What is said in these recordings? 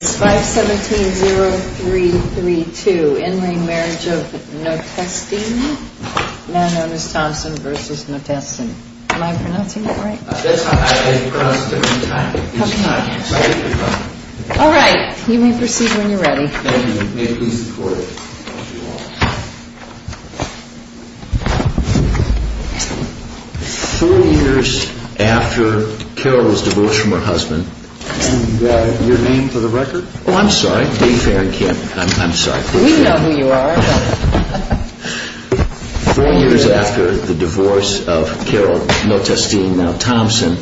5-17-0-3-3-2. In re Marriage of Notestine. Man known as Thompson versus Notestine. Am I pronouncing it right? That's fine. I pronounce it at the same time. Okay. So I'll get your phone. Alright. You may proceed when you're ready. Thank you. May it please the court. Three years after Carol was divorced from her husband. And your name for the record? Oh, I'm sorry. Dave Aaron Kemp. I'm sorry. We know who you are. Four years after the divorce of Carol Notestine, now Thompson,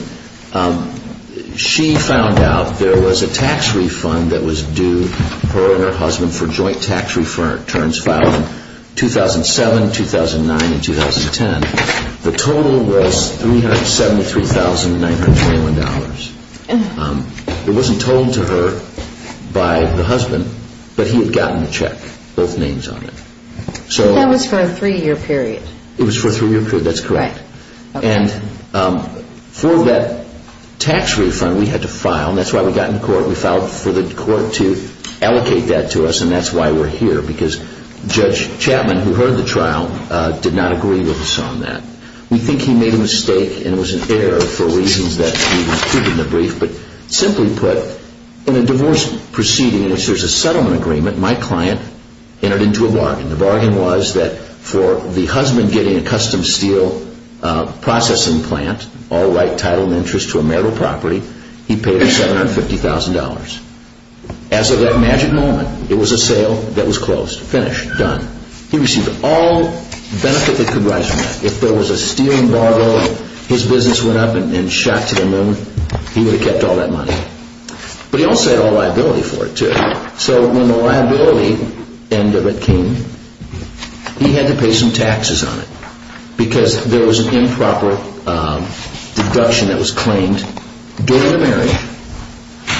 she found out there was a tax refund that was due her and her husband for joint tax returns filed in 2007, 2009, and 2010. The total was $373,921. It wasn't told to her by the husband, but he had gotten a check, both names on it. That was for a three-year period. It was for a three-year period. That's correct. And for that tax refund, we had to file. That's why we got in court. We filed for the court to allocate that to us, and that's why we're here. Because Judge Chapman, who heard the trial, did not agree with us on that. We think he made a mistake, and it was an error for reasons that we keep in the brief. But simply put, in a divorce proceeding, if there's a settlement agreement, my client entered into a bargain. The bargain was that for the husband getting a custom steel processing plant, all right title and interest to a marital property, he paid him $750,000. As of that magic moment, it was a sale that was closed. Finished. Done. He received all benefit that could rise from that. If there was a stealing bargain, his business went up and shot to the moon, he would have kept all that money. But he also had all liability for it, too. So when the liability came, he had to pay some taxes on it. Because there was an improper deduction that was claimed during the marriage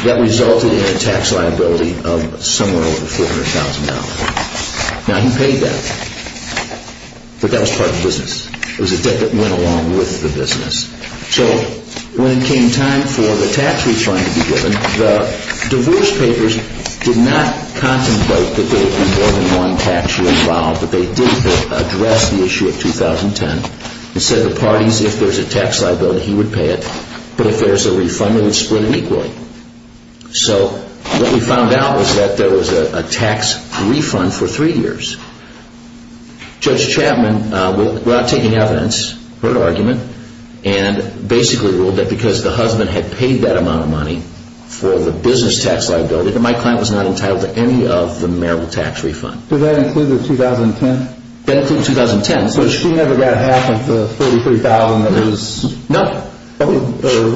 that resulted in a tax liability of somewhere over $400,000. Now he paid that, but that was part of the business. It was a debt that went along with the business. So when it came time for the tax refund to be given, the divorce papers did not contemplate that there would be more than one tax year involved. But they did address the issue of 2010 and said the parties, if there's a tax liability, he would pay it. But if there's a refund, it would split it equally. So what we found out was that there was a tax refund for three years. Judge Chapman, without taking evidence, heard argument, and basically ruled that because the husband had paid that amount of money for the business tax liability, that my client was not entitled to any of the marital tax refund. Did that include the 2010? That included 2010. So she never got half of the $43,000 that was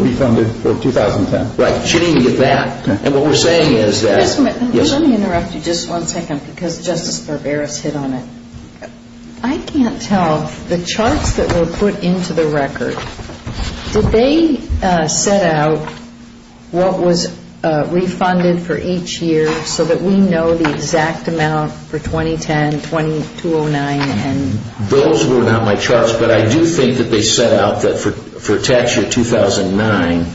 refunded for 2010. Right. She didn't even get that. Let me interrupt you just one second because Justice Barbera has hit on it. I can't tell, the charts that were put into the record, did they set out what was refunded for each year so that we know the exact amount for 2010, 2209? Those were not my charts, but I do think that they set out that for tax year 2009,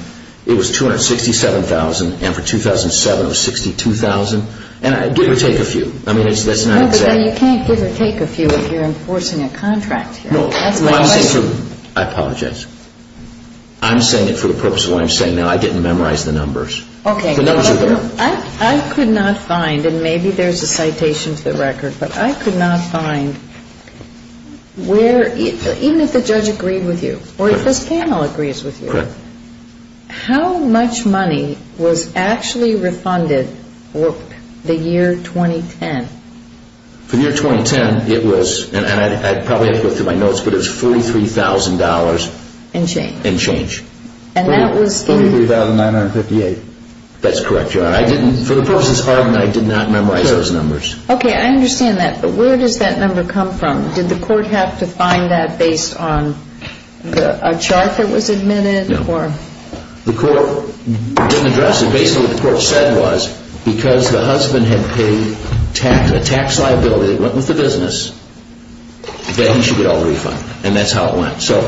it was $267,000, and for 2007 it was $62,000. And give or take a few. No, but you can't give or take a few if you're enforcing a contract here. I apologize. I'm saying it for the purpose of what I'm saying now. I didn't memorize the numbers. Okay. The numbers are there. I could not find, and maybe there's a citation to the record, but I could not find where, even if the judge agreed with you or if this panel agrees with you, how much money was actually refunded for the year 2010? For the year 2010, it was, and I probably have to go through my notes, but it was $43,000. And change. And change. $43,958. That's correct, Your Honor. For the purposes of argument, I did not memorize those numbers. Okay. I understand that, but where does that number come from? Did the court have to find that based on a chart that was admitted? No. The court didn't address it. Basically, what the court said was because the husband had paid a tax liability that went with the business, that he should get all the refund, and that's how it went. So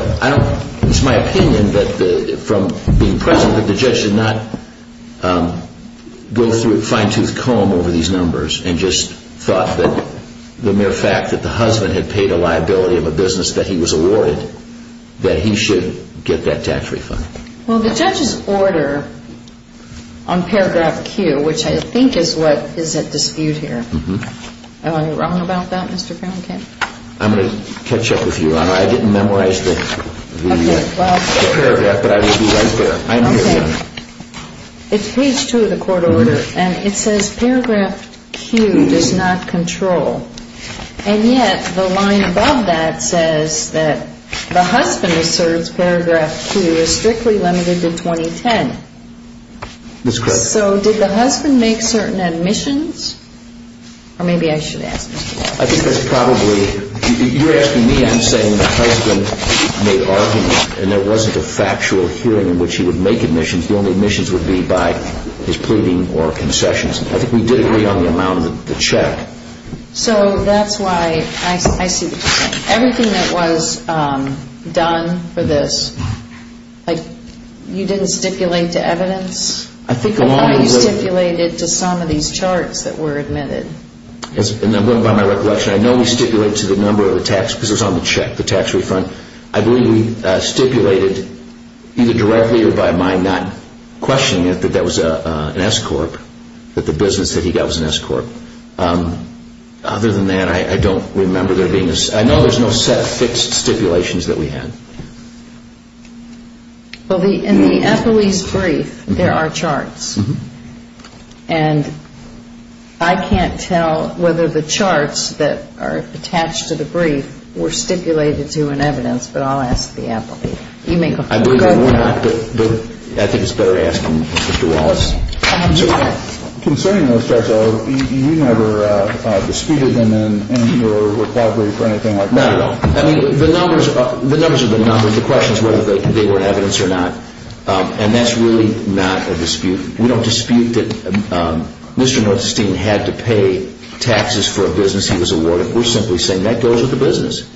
it's my opinion that from being present that the judge did not go through a fine-tooth comb over these numbers and just thought that the mere fact that the husband had paid a liability of a business that he was awarded, that he should get that tax refund. Well, the judge's order on paragraph Q, which I think is what is at dispute here, am I wrong about that, Mr. Franken? I'm going to catch up with you, Your Honor. I didn't memorize the paragraph, but I will be right there. Okay. It's page 2 of the court order, and it says paragraph Q does not control. And yet the line above that says that the husband asserts paragraph Q is strictly limited to 2010. That's correct. So did the husband make certain admissions? Or maybe I should ask Mr. Walsh. I think that's probably – you're asking me. I'm saying the husband made arguments, and there wasn't a factual hearing in which he would make admissions. The only admissions would be by his pleading or concessions. I think we did agree on the amount of the check. So that's why – I see what you're saying. Everything that was done for this, like, you didn't stipulate to evidence? I think along the way – I thought you stipulated to some of these charts that were admitted. And I'm going by my recollection. I know we stipulated to the number of the tax, because it was on the check, the tax refund. I believe we stipulated either directly or by my not questioning it that that was an S-corp, that the business that he got was an S-corp. Other than that, I don't remember there being a – I know there's no set fixed stipulations that we had. Well, in the Eppley's brief, there are charts. And I can't tell whether the charts that are attached to the brief were stipulated to in evidence, but I'll ask the Eppley. You may go ahead. I think it's better to ask Mr. Wallace. I have no doubt. Concerning those charts, you never disputed them in your report brief or anything like that? Not at all. I mean, the numbers are the numbers. The question is whether they were in evidence or not. And that's really not a dispute. We don't dispute that Mr. Northenstein had to pay taxes for a business he was awarded. We're simply saying that goes with the business.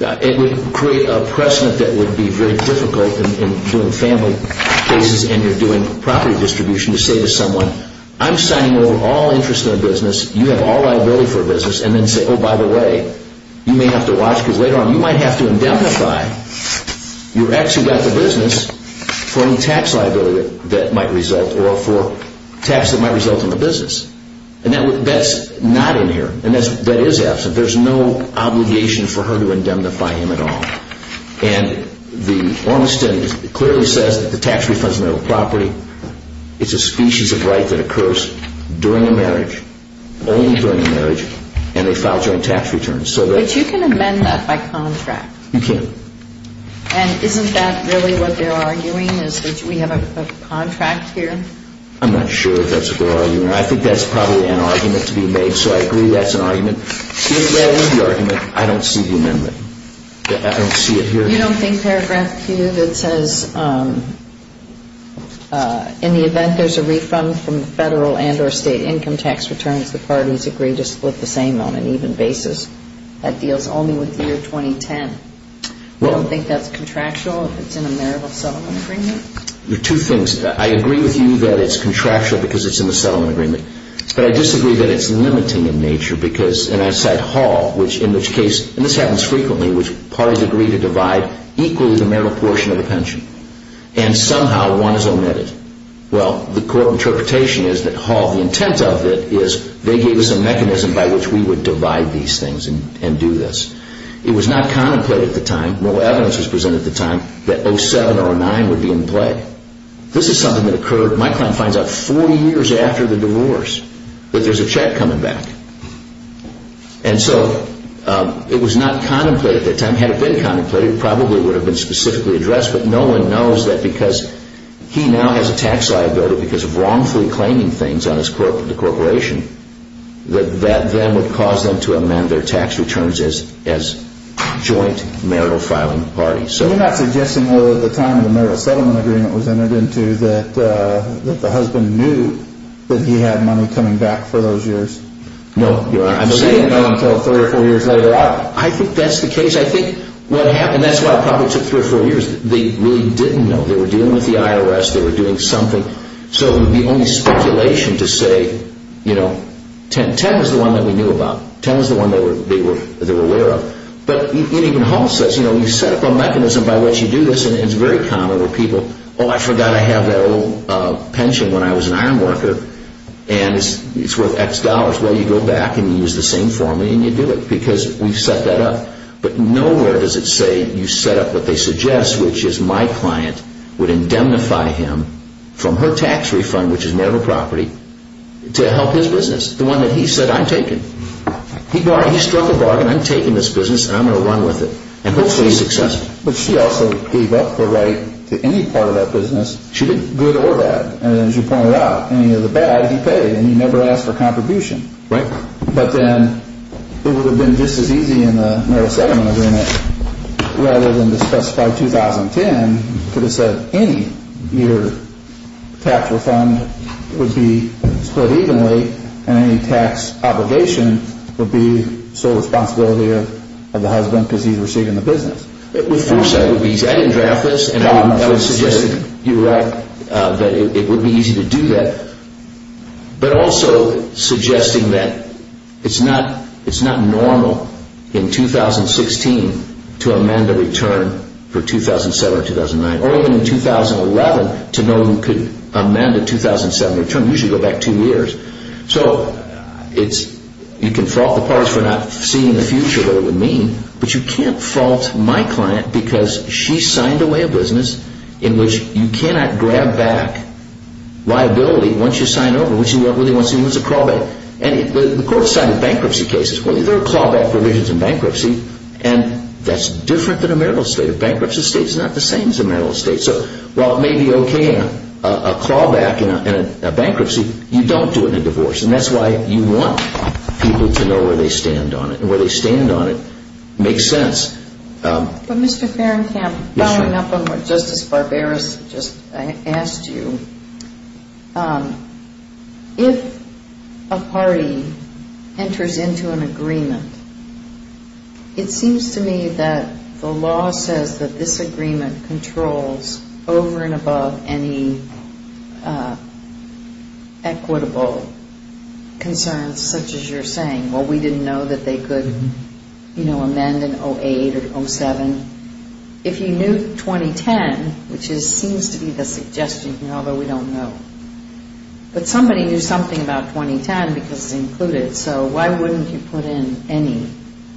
It would create a precedent that would be very difficult in doing family cases and you're doing property distribution to say to someone, and then say, oh, by the way, you may have to watch because later on you might have to indemnify your ex who got the business for any tax liability that might result or for tax that might result in the business. And that's not in here. And that is absent. There's no obligation for her to indemnify him at all. And the Ormiston clearly says that the tax refunds on their property, it's a species of right that occurs during a marriage, only during a marriage, and they file joint tax returns. But you can amend that by contract. You can. And isn't that really what they're arguing is that we have a contract here? I'm not sure if that's what they're arguing. I think that's probably an argument to be made, so I agree that's an argument. If that was the argument, I don't see the amendment. I don't see it here. Well, you don't think paragraph 2 that says, in the event there's a refund from the federal and or state income tax returns, the parties agree to split the same on an even basis. That deals only with the year 2010. You don't think that's contractual if it's in a marital settlement agreement? There are two things. I agree with you that it's contractual because it's in the settlement agreement, but I disagree that it's limiting in nature because, and I cite Hall, which in this case, and this happens frequently, which parties agree to divide equally the marital portion of the pension. And somehow one is omitted. Well, the court interpretation is that Hall, the intent of it, is they gave us a mechanism by which we would divide these things and do this. It was not contemplated at the time, no evidence was presented at the time, that 07 or 09 would be in play. This is something that occurred, my client finds out, four years after the divorce, that there's a check coming back. And so it was not contemplated at the time. Had it been contemplated, it probably would have been specifically addressed, but no one knows that because he now has a tax liability because of wrongfully claiming things on his corporation, that that then would cause them to amend their tax returns as joint marital filing parties. So you're not suggesting, although at the time the marital settlement agreement was entered into, that the husband knew that he had money coming back for those years? No. I'm saying no until three or four years later on. I think that's the case. I think what happened, and that's why it probably took three or four years, they really didn't know. They were dealing with the IRS, they were doing something. So the only speculation to say, you know, 10 was the one that we knew about. 10 was the one that they were aware of. But even Hall says, you know, you set up a mechanism by which you do this, and it's very common where people, oh, I forgot I have that old pension when I was an iron worker, and it's worth X dollars. Well, you go back and you use the same formula and you do it because we've set that up. But nowhere does it say you set up what they suggest, which is my client would indemnify him from her tax refund, which is marital property, to help his business, the one that he said, I'm taking. He struck a bargain, I'm taking this business and I'm going to run with it. And hopefully he's successful. But she also gave up her right to any part of that business, good or bad. And as you pointed out, any of the bad, he paid, and he never asked for contribution. Right. But then it would have been just as easy in the marital settlement agreement, rather than to specify 2010 could have said any year tax refund would be split evenly and any tax obligation would be sole responsibility of the husband because he's receiving the business. With foresight it would be easy. I didn't draft this. I would suggest that you're right, that it would be easy to do that. But also suggesting that it's not normal in 2016 to amend a return for 2007 or 2009, or even in 2011 to know who could amend a 2007 return, usually go back two years. So you can fault the parties for not seeing the future, what it would mean, but you can't fault my client because she signed away a business in which you cannot grab back liability once you sign over, which you really want to see as a crawlback. And the court cited bankruptcy cases. Well, there are crawlback provisions in bankruptcy, and that's different than a marital estate. A bankruptcy estate is not the same as a marital estate. So while it may be okay in a crawlback in a bankruptcy, you don't do it in a divorce. And that's why you want people to know where they stand on it. And where they stand on it makes sense. But, Mr. Fahrenkamp, following up on what Justice Barberos just asked you, if a party enters into an agreement, it seems to me that the law says that this agreement controls over and above any equitable concerns such as you're saying. Well, we didn't know that they could, you know, amend in 08 or 07. If you knew 2010, which seems to be the suggestion, although we don't know, but somebody knew something about 2010 because it's included. So why wouldn't you put in any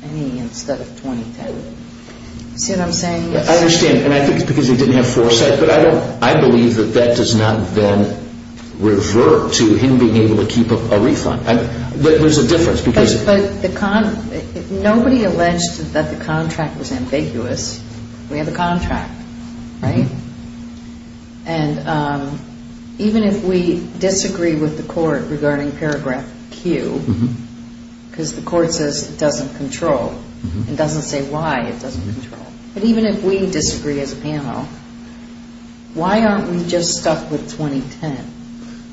instead of 2010? See what I'm saying? I understand. And I think it's because they didn't have foresight. But I believe that that does not then revert to him being able to keep a refund. There's a difference. But nobody alleged that the contract was ambiguous. We have a contract, right? And even if we disagree with the court regarding paragraph Q, because the court says it doesn't control and doesn't say why it doesn't control, but even if we disagree as a panel, why aren't we just stuck with 2010?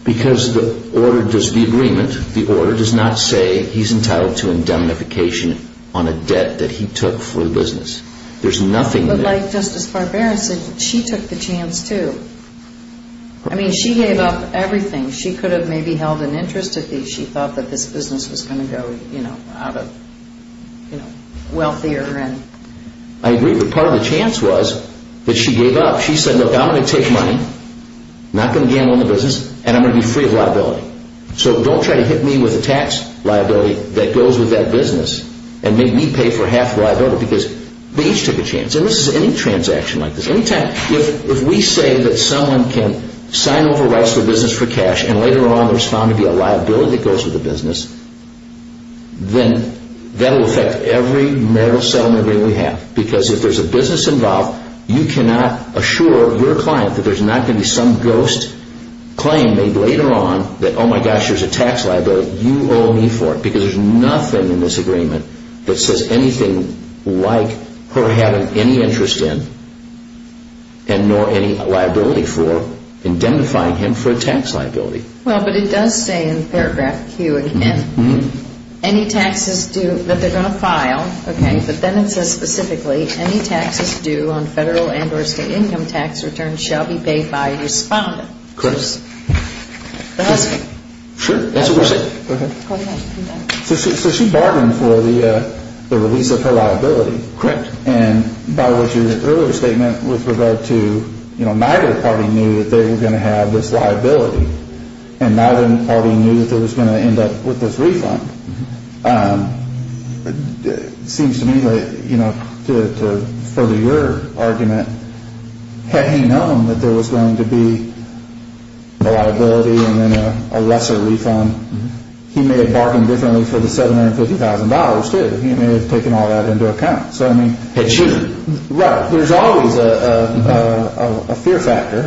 Because the order does the agreement. The order does not say he's entitled to indemnification on a debt that he took for the business. There's nothing there. But like Justice Barbaros said, she took the chance too. I mean, she gave up everything. She could have maybe held an interest at least. She thought that this business was going to go, you know, out of, you know, wealthier. I agree. But part of the chance was that she gave up. She said, look, I'm going to take money, not going to gamble on the business, and I'm going to be free of liability. So don't try to hit me with a tax liability that goes with that business and make me pay for half the liability because they each took a chance. And this is any transaction like this. If we say that someone can sign over rights to a business for cash and later on there's found to be a liability that goes with the business, then that will affect every moral settlement agreement we have. Because if there's a business involved, you cannot assure your client that there's not going to be some ghost claim made later on that, oh my gosh, there's a tax liability, you owe me for it. Because there's nothing in this agreement that says anything like her having any interest in and nor any liability for indemnifying him for a tax liability. Well, but it does say in paragraph Q again, any taxes due, that they're going to file, okay, but then it says specifically any taxes due on federal and or state income tax returns shall be paid by a respondent. Correct. The husband. Sure. That's what we're saying. Go ahead. So she bargained for the release of her liability. Correct. And by what your earlier statement with regard to, you know, neither party knew that they were going to have this liability and neither party knew that they were going to end up with this refund. It seems to me that, you know, to further your argument, had he known that there was going to be a liability and then a lesser refund, he may have bargained differently for the $750,000 too. He may have taken all that into account. So, I mean. He shouldn't. Right. There's always a fear factor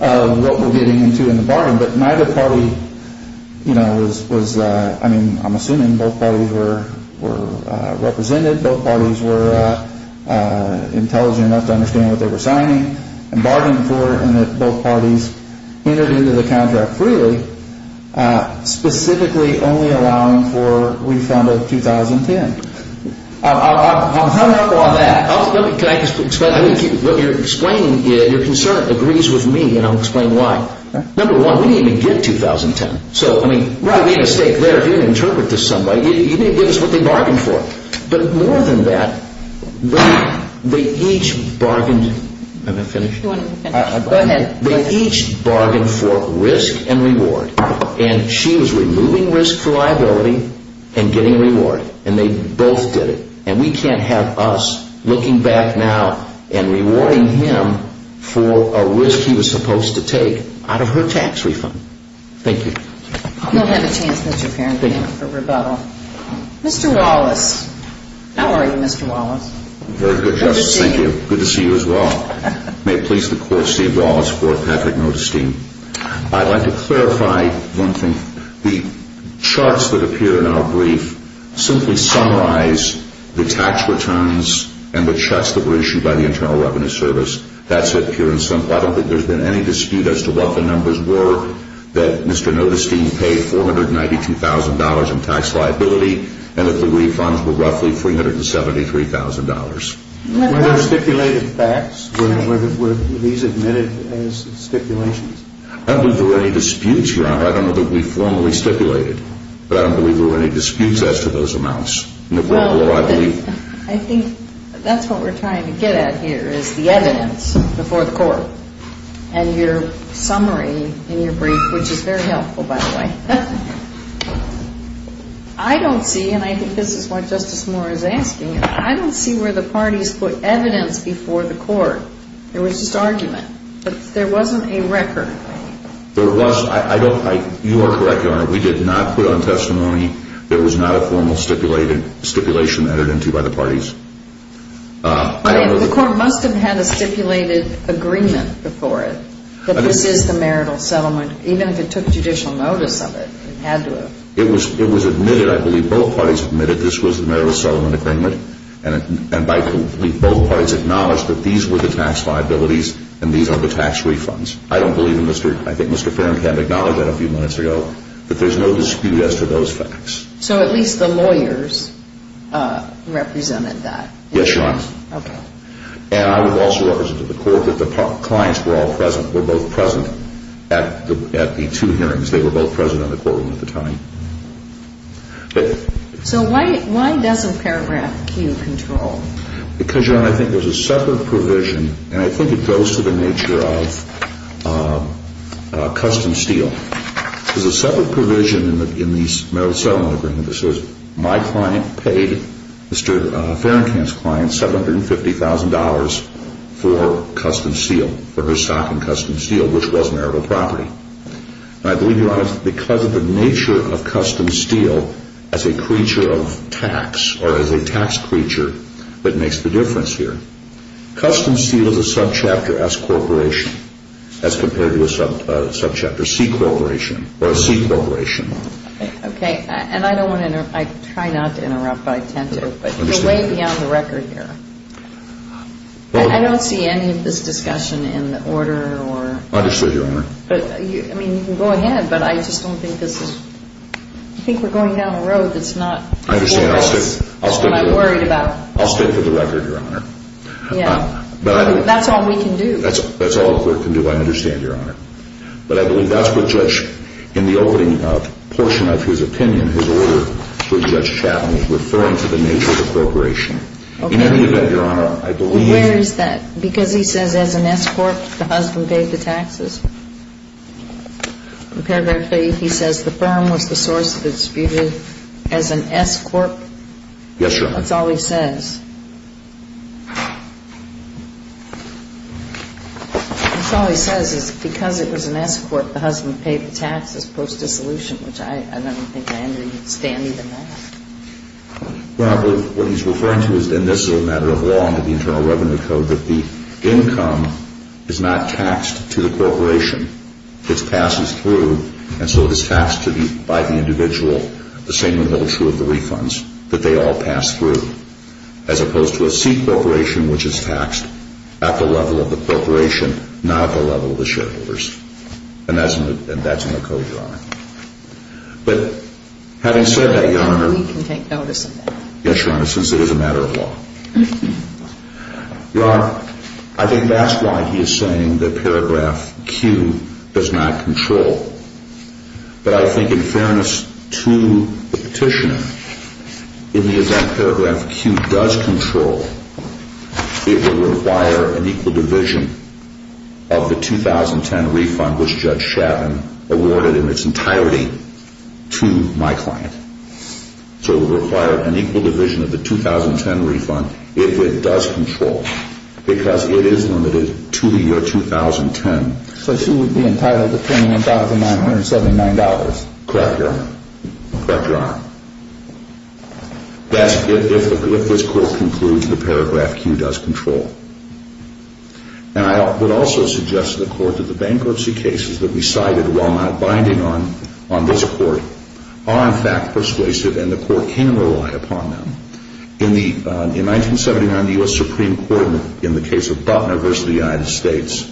of what we're getting into in the bargain, but neither party, you know, was, I mean, I'm assuming both parties were represented, both parties were intelligent enough to understand what they were signing and bargained for and that both parties entered into the contract freely, specifically only allowing for refund of $2,010,000. I'll follow up on that. Can I just explain? What you're explaining, your concern agrees with me and I'll explain why. Number one, we didn't even get $2,010,000. So, I mean. Right. We made a mistake there. You didn't interpret this some way. You didn't give us what they bargained for. But more than that, they each bargained. Am I finished? You want to finish? Go ahead. They each bargained for risk and reward, and she was removing risk for liability and getting a reward, and they both did it. And we can't have us looking back now and rewarding him for a risk he was supposed to take out of her tax refund. Thank you. You'll have a chance, Mr. Parent, for rebuttal. Mr. Wallace, how are you, Mr. Wallace? Very good, Justice. Thank you. Good to see you. Good to see you as well. May it please the Court, Steve Wallace for Patrick Notasteem. I'd like to clarify one thing. The charts that appear in our brief simply summarize the tax returns and the checks that were issued by the Internal Revenue Service. That's it, pure and simple. I don't think there's been any dispute as to what the numbers were that Mr. Notasteem paid $492,000 in tax liability and that the refunds were roughly $373,000. Were there stipulated facts? Were these admitted as stipulations? I don't think there were any disputes, Your Honor. I don't know that we formally stipulated, but I don't believe there were any disputes as to those amounts. Well, I think that's what we're trying to get at here is the evidence before the Court and your summary in your brief, which is very helpful, by the way. I don't see, and I think this is what Justice Moore is asking, I don't see where the parties put evidence before the Court. There was just argument, but there wasn't a record. There was. You are correct, Your Honor. We did not put on testimony there was not a formal stipulation added into by the parties. The Court must have had a stipulated agreement before it that this is the marital settlement, even if it took judicial notice of it, it had to have. It was admitted. I believe both parties admitted this was the marital settlement agreement, and I believe both parties acknowledged that these were the tax liabilities and these are the tax refunds. I don't believe Mr. Farron can acknowledge that a few minutes ago, but there's no dispute as to those facts. So at least the lawyers represented that. Yes, Your Honor. Okay. And I would also represent to the Court that the clients were all present, were both present at the two hearings. They were both present in the courtroom at the time. So why doesn't paragraph Q control? Because, Your Honor, I think there's a separate provision, and I think it goes to the nature of custom steel. There's a separate provision in the marital settlement agreement that says, my client paid Mr. Farron's client $750,000 for custom steel, for her stock in custom steel, which was marital property. And I believe, Your Honor, because of the nature of custom steel as a creature of tax or as a tax creature, that makes the difference here. Custom steel is a subchapter S corporation as compared to a subchapter C corporation or a C corporation. Okay. And I don't want to interrupt. I try not to interrupt, but I tend to. But you're way beyond the record here. I don't see any of this discussion in order or – Understood, Your Honor. I mean, you can go ahead, but I just don't think this is – I think we're going down a road that's not – I understand. I'll stay – That's what I'm worried about. I'll stay for the record, Your Honor. Yeah. That's all we can do. That's all the Court can do. I understand, Your Honor. But I believe that's what Judge – in the opening portion of his opinion, his order for Judge Chappin was referring to the nature of appropriation. Okay. In any event, Your Honor, I believe – Well, where is that? Because he says as an S corp, the husband paid the taxes. In paragraph 3, he says the firm was the source of the disputed as an S corp. Yes, Your Honor. That's all he says. That's all he says is because it was an S corp, the husband paid the taxes post-dissolution, which I don't think I understand even that. Well, I believe what he's referring to is – and this is a matter of law under the Internal Revenue Code – that the income is not taxed to the corporation. It passes through, and so it is taxed to the – by the individual, the same would hold true of the refunds, that they all pass through. As opposed to a C corporation, which is taxed at the level of the corporation, not at the level of the shareholders. And that's in the Code, Your Honor. But having said that, Your Honor – We can take notice of that. Yes, Your Honor, since it is a matter of law. Your Honor, I think that's why he is saying that paragraph Q does not control. But I think in fairness to the petitioner, in the event paragraph Q does control, it would require an equal division of the 2010 refund, which Judge Chavin awarded in its entirety to my client. So it would require an equal division of the 2010 refund if it does control, because it is limited to the year 2010. So she would be entitled to $21,979. Correct, Your Honor. Correct, Your Honor. That's if this Court concludes that paragraph Q does control. And I would also suggest to the Court that the bankruptcy cases that we cited, while not binding on this Court, are in fact persuasive, and the Court can rely upon them. In 1979, the U.S. Supreme Court, in the case of Butler v. United States,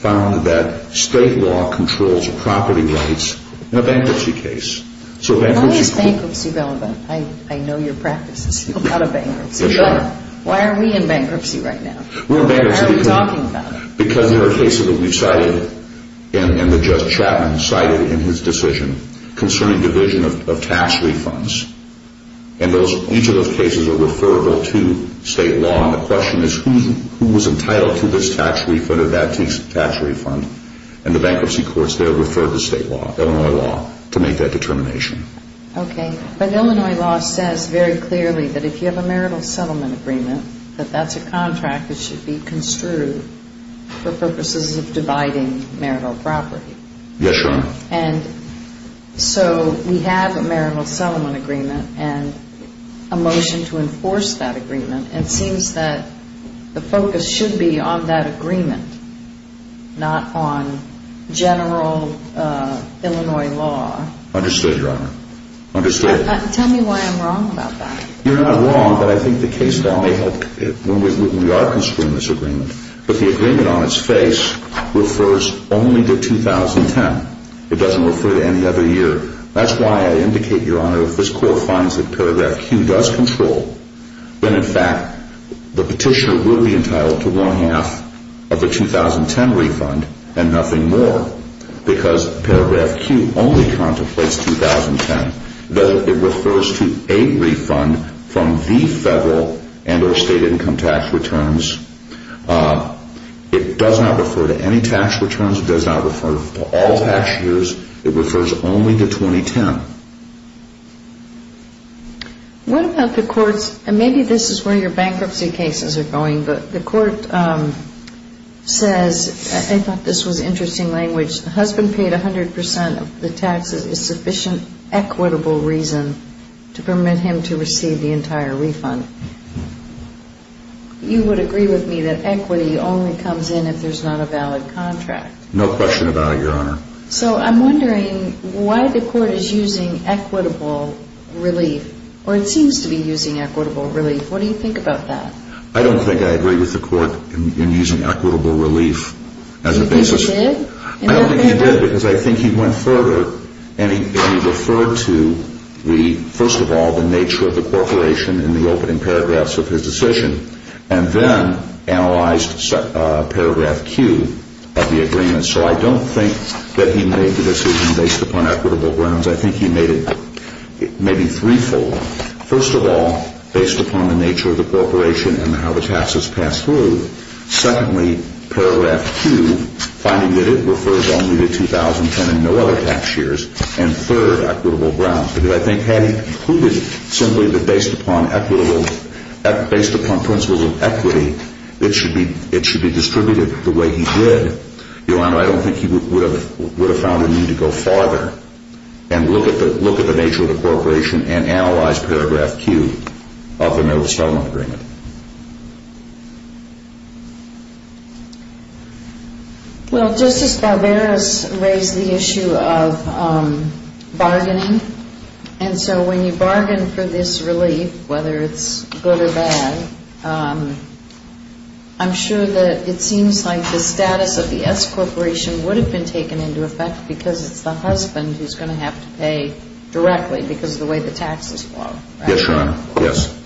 found that state law controls property rights in a bankruptcy case. Why is bankruptcy relevant? I know your practice is a lot of bankruptcy. Yes, Your Honor. But why are we in bankruptcy right now? We're in bankruptcy because there are cases that we've cited, and that Judge Chavin cited in his decision, concerning division of tax refunds. And each of those cases are referable to state law. The question is who was entitled to this tax refund or that tax refund, and the bankruptcy courts there refer to state law, Illinois law, to make that determination. Okay. But Illinois law says very clearly that if you have a marital settlement agreement, that that's a contract that should be construed for purposes of dividing marital property. Yes, Your Honor. And so we have a marital settlement agreement and a motion to enforce that agreement, and it seems that the focus should be on that agreement, not on general Illinois law. Understood, Your Honor. Understood. Tell me why I'm wrong about that. You're not wrong, but I think the case law may help when we are construing this agreement. But the agreement on its face refers only to 2010. It doesn't refer to any other year. That's why I indicate, Your Honor, that if this court finds that paragraph Q does control, then in fact the petitioner will be entitled to one-half of the 2010 refund and nothing more, because paragraph Q only contemplates 2010. It refers to a refund from the federal and or state income tax returns. It does not refer to any tax returns. It does not refer to all tax years. It refers only to 2010. What about the courts, and maybe this is where your bankruptcy cases are going, but the court says, I thought this was interesting language, the husband paid 100% of the taxes, a sufficient equitable reason to permit him to receive the entire refund. You would agree with me that equity only comes in if there's not a valid contract. No question about it, Your Honor. So I'm wondering why the court is using equitable relief, or it seems to be using equitable relief. What do you think about that? I don't think I agree with the court in using equitable relief as a basis. Do you think he did? I don't think he did, because I think he went further, and he referred to, first of all, the nature of the corporation in the opening paragraphs of his decision, and then analyzed paragraph Q of the agreement. So I don't think that he made the decision based upon equitable grounds. I think he made it maybe threefold. First of all, based upon the nature of the corporation and how the taxes pass through. Secondly, paragraph Q, finding that it refers only to 2010 and no other tax years. And third, equitable grounds, because I think had he concluded simply that based upon principles of equity, it should be distributed the way he did. Your Honor, I don't think he would have found a need to go farther and look at the nature of the corporation and analyze paragraph Q of the Nova-Stalin Agreement. Well, Justice Barbera has raised the issue of bargaining, and so when you bargain for this relief, whether it's good or bad, I'm sure that it seems like the status of the S Corporation would have been taken into effect because it's the husband who's going to have to pay directly because of the way the taxes flow. Yes, Your Honor. Yes.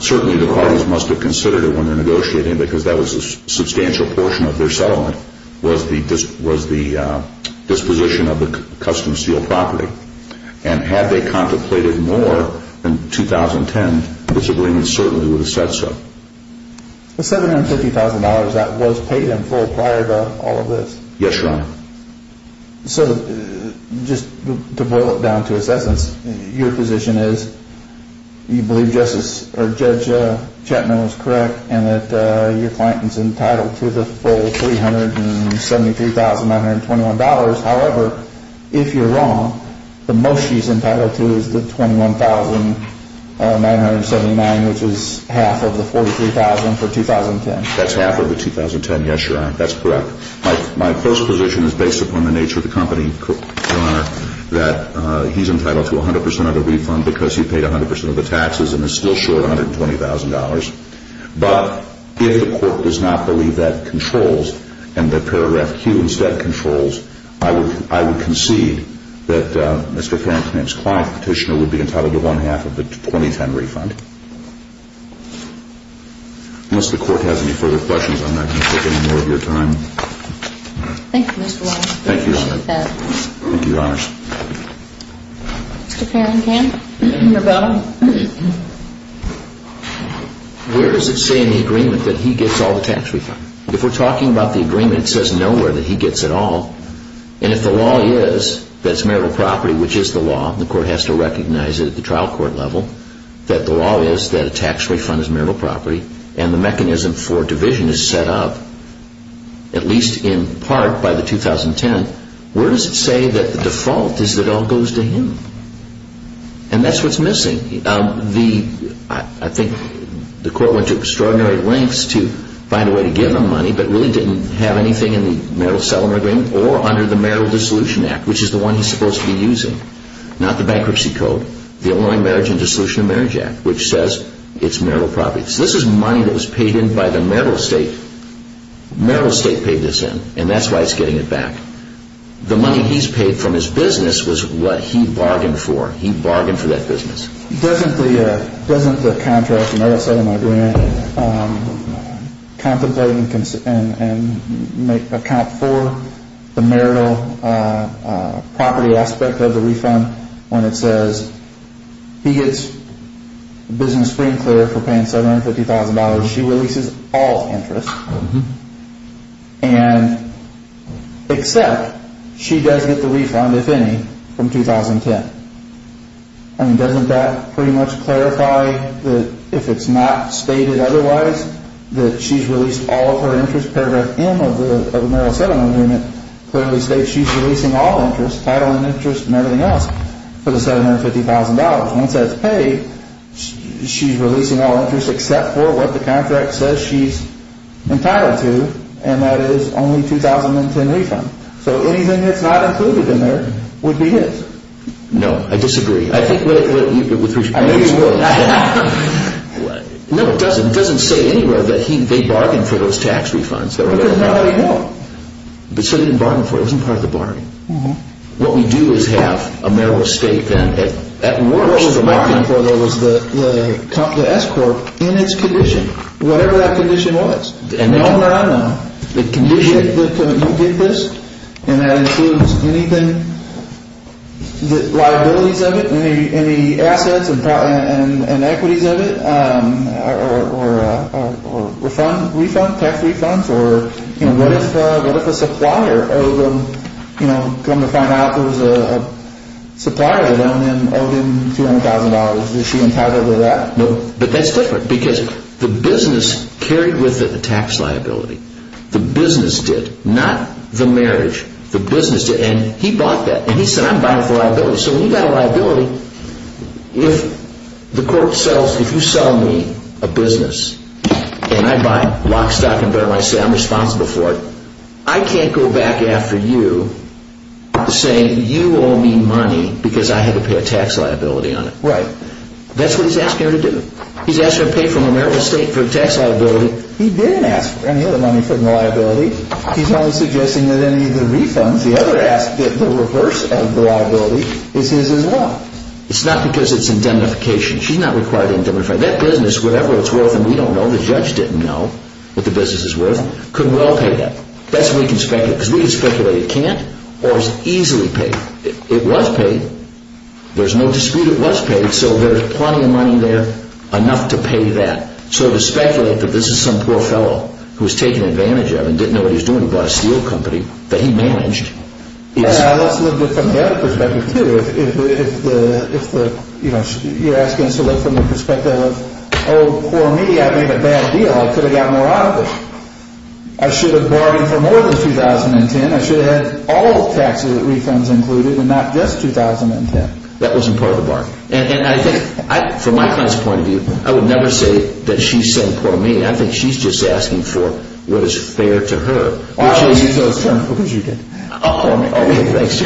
Certainly the parties must have considered it when they're negotiating, because that was a substantial portion of their settlement, was the disposition of the custom seal property. And had they contemplated more in 2010, the subpoena certainly would have said so. The $750,000 that was paid in full prior to all of this. Yes, Your Honor. So just to boil it down to assessments, your position is you believe Judge Chapman was correct and that your client is entitled to the full $373,921. However, if you're wrong, the most he's entitled to is the $21,979, which is half of the $43,000 for 2010. That's half of the 2010, yes, Your Honor. That's correct. My close position is based upon the nature of the company, Your Honor, that he's entitled to 100% of the refund because he paid 100% of the taxes and is still short $120,000. But if the court does not believe that controls and that paragraph Q instead controls, I would concede that Mr. Farrington and his client petitioner would be entitled to one-half of the 2010 refund. Unless the court has any further questions, I'm not going to take any more of your time. Thank you, Mr. Walsh. Thank you, Your Honor. I appreciate that. Thank you, Your Honors. Mr. Farrington? Where does it say in the agreement that he gets all the tax refund? If we're talking about the agreement, it says nowhere that he gets it all. And if the law is that it's marital property, which is the law, the court has to recognize it at the trial court level, that the law is that a tax refund is marital property and the mechanism for division is set up at least in part by the 2010, where does it say that the default is that it all goes to him? And that's what's missing. I think the court went to extraordinary lengths to find a way to give him money but really didn't have anything in the marital settlement agreement or under the Marital Dissolution Act, which is the one he's supposed to be using, not the bankruptcy code, the Illinois Marriage and Dissolution of Marriage Act, which says it's marital property. So this is money that was paid in by the marital estate. Marital estate paid this in, and that's why it's getting it back. The money he's paid from his business was what he bargained for. He bargained for that business. Doesn't the contract in that settlement agreement contemplate and account for the marital property aspect of the refund when it says he gets business free and clear for paying $750,000. She releases all interest, except she does get the refund, if any, from 2010. Doesn't that pretty much clarify that if it's not stated otherwise, that she's released all of her interest? Paragraph M of the marital settlement agreement clearly states she's releasing all interest, title and interest and everything else, for the $750,000. Once that's paid, she's releasing all interest, except for what the contract says she's entitled to, and that is only 2010 refund. So anything that's not included in there would be his. No, I disagree. I think with respect to... I know you would. No, it doesn't. It doesn't say anywhere that they bargained for those tax refunds. Because nobody would. But so they didn't bargain for it. It wasn't part of the bargain. What we do is have a marital estate, and at worst... What was the bargain for? There was the S-Corp in its condition, whatever that condition was. And the only way I know, the condition that you did this, and that includes anything, the liabilities of it, any assets and equities of it, or refund, tax refunds, or what if a supplier owed them, come to find out there was a supplier of them and owed him $200,000? Is she entitled to that? No, but that's different, because the business carried with it the tax liability. The business did, not the marriage. The business did, and he bought that. And he said, I'm buying for liability. So when you've got a liability, if you sell me a business, and I buy it lock, stock, and barrel, and I say I'm responsible for it, I can't go back after you saying you owe me money because I had to pay a tax liability on it. Right. That's what he's asking her to do. He's asking her to pay for marital estate for a tax liability. He didn't ask for any other money from the liability. He's only suggesting that any of the refunds, The other ask that the reverse of the liability is his as well. It's not because it's indemnification. She's not required to indemnify. That business, whatever it's worth, and we don't know, the judge didn't know what the business is worth, could well pay that. That's what we can speculate, because we can speculate it can't or is easily paid. It was paid. There's no dispute it was paid, so there's plenty of money there enough to pay that. So to speculate that this is some poor fellow who was taken advantage of and didn't know what he was doing and bought a steel company that he managed. Let's look at it from the other perspective too. If you're asking us to look from the perspective of, Oh, poor me, I made a bad deal, I could have gotten more out of it. I should have bargained for more than 2010. I should have had all the taxes and refunds included and not just 2010. That wasn't part of the bargain. And I think, from my client's point of view, I would never say that she's saying poor me. I think she's just asking for what is fair to her. Oh, because you did. Oh, thanks.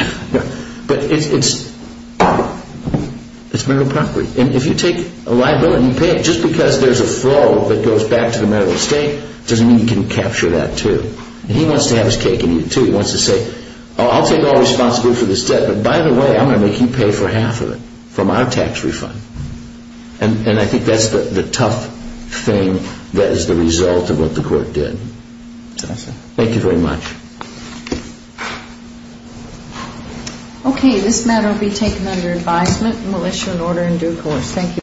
But it's, it's, it's marital property. And if you take a liability and you pay it, just because there's a flow that goes back to the marital estate, doesn't mean you can capture that too. He wants to have his cake and eat it too. He wants to say, I'll take all responsibility for this debt, but by the way, I'm going to make you pay for half of it from our tax refund. And I think that's the tough thing that is the result of what the court did. Thank you very much. Okay, this matter will be taken under advisement and we'll issue an order in due course. Thank you.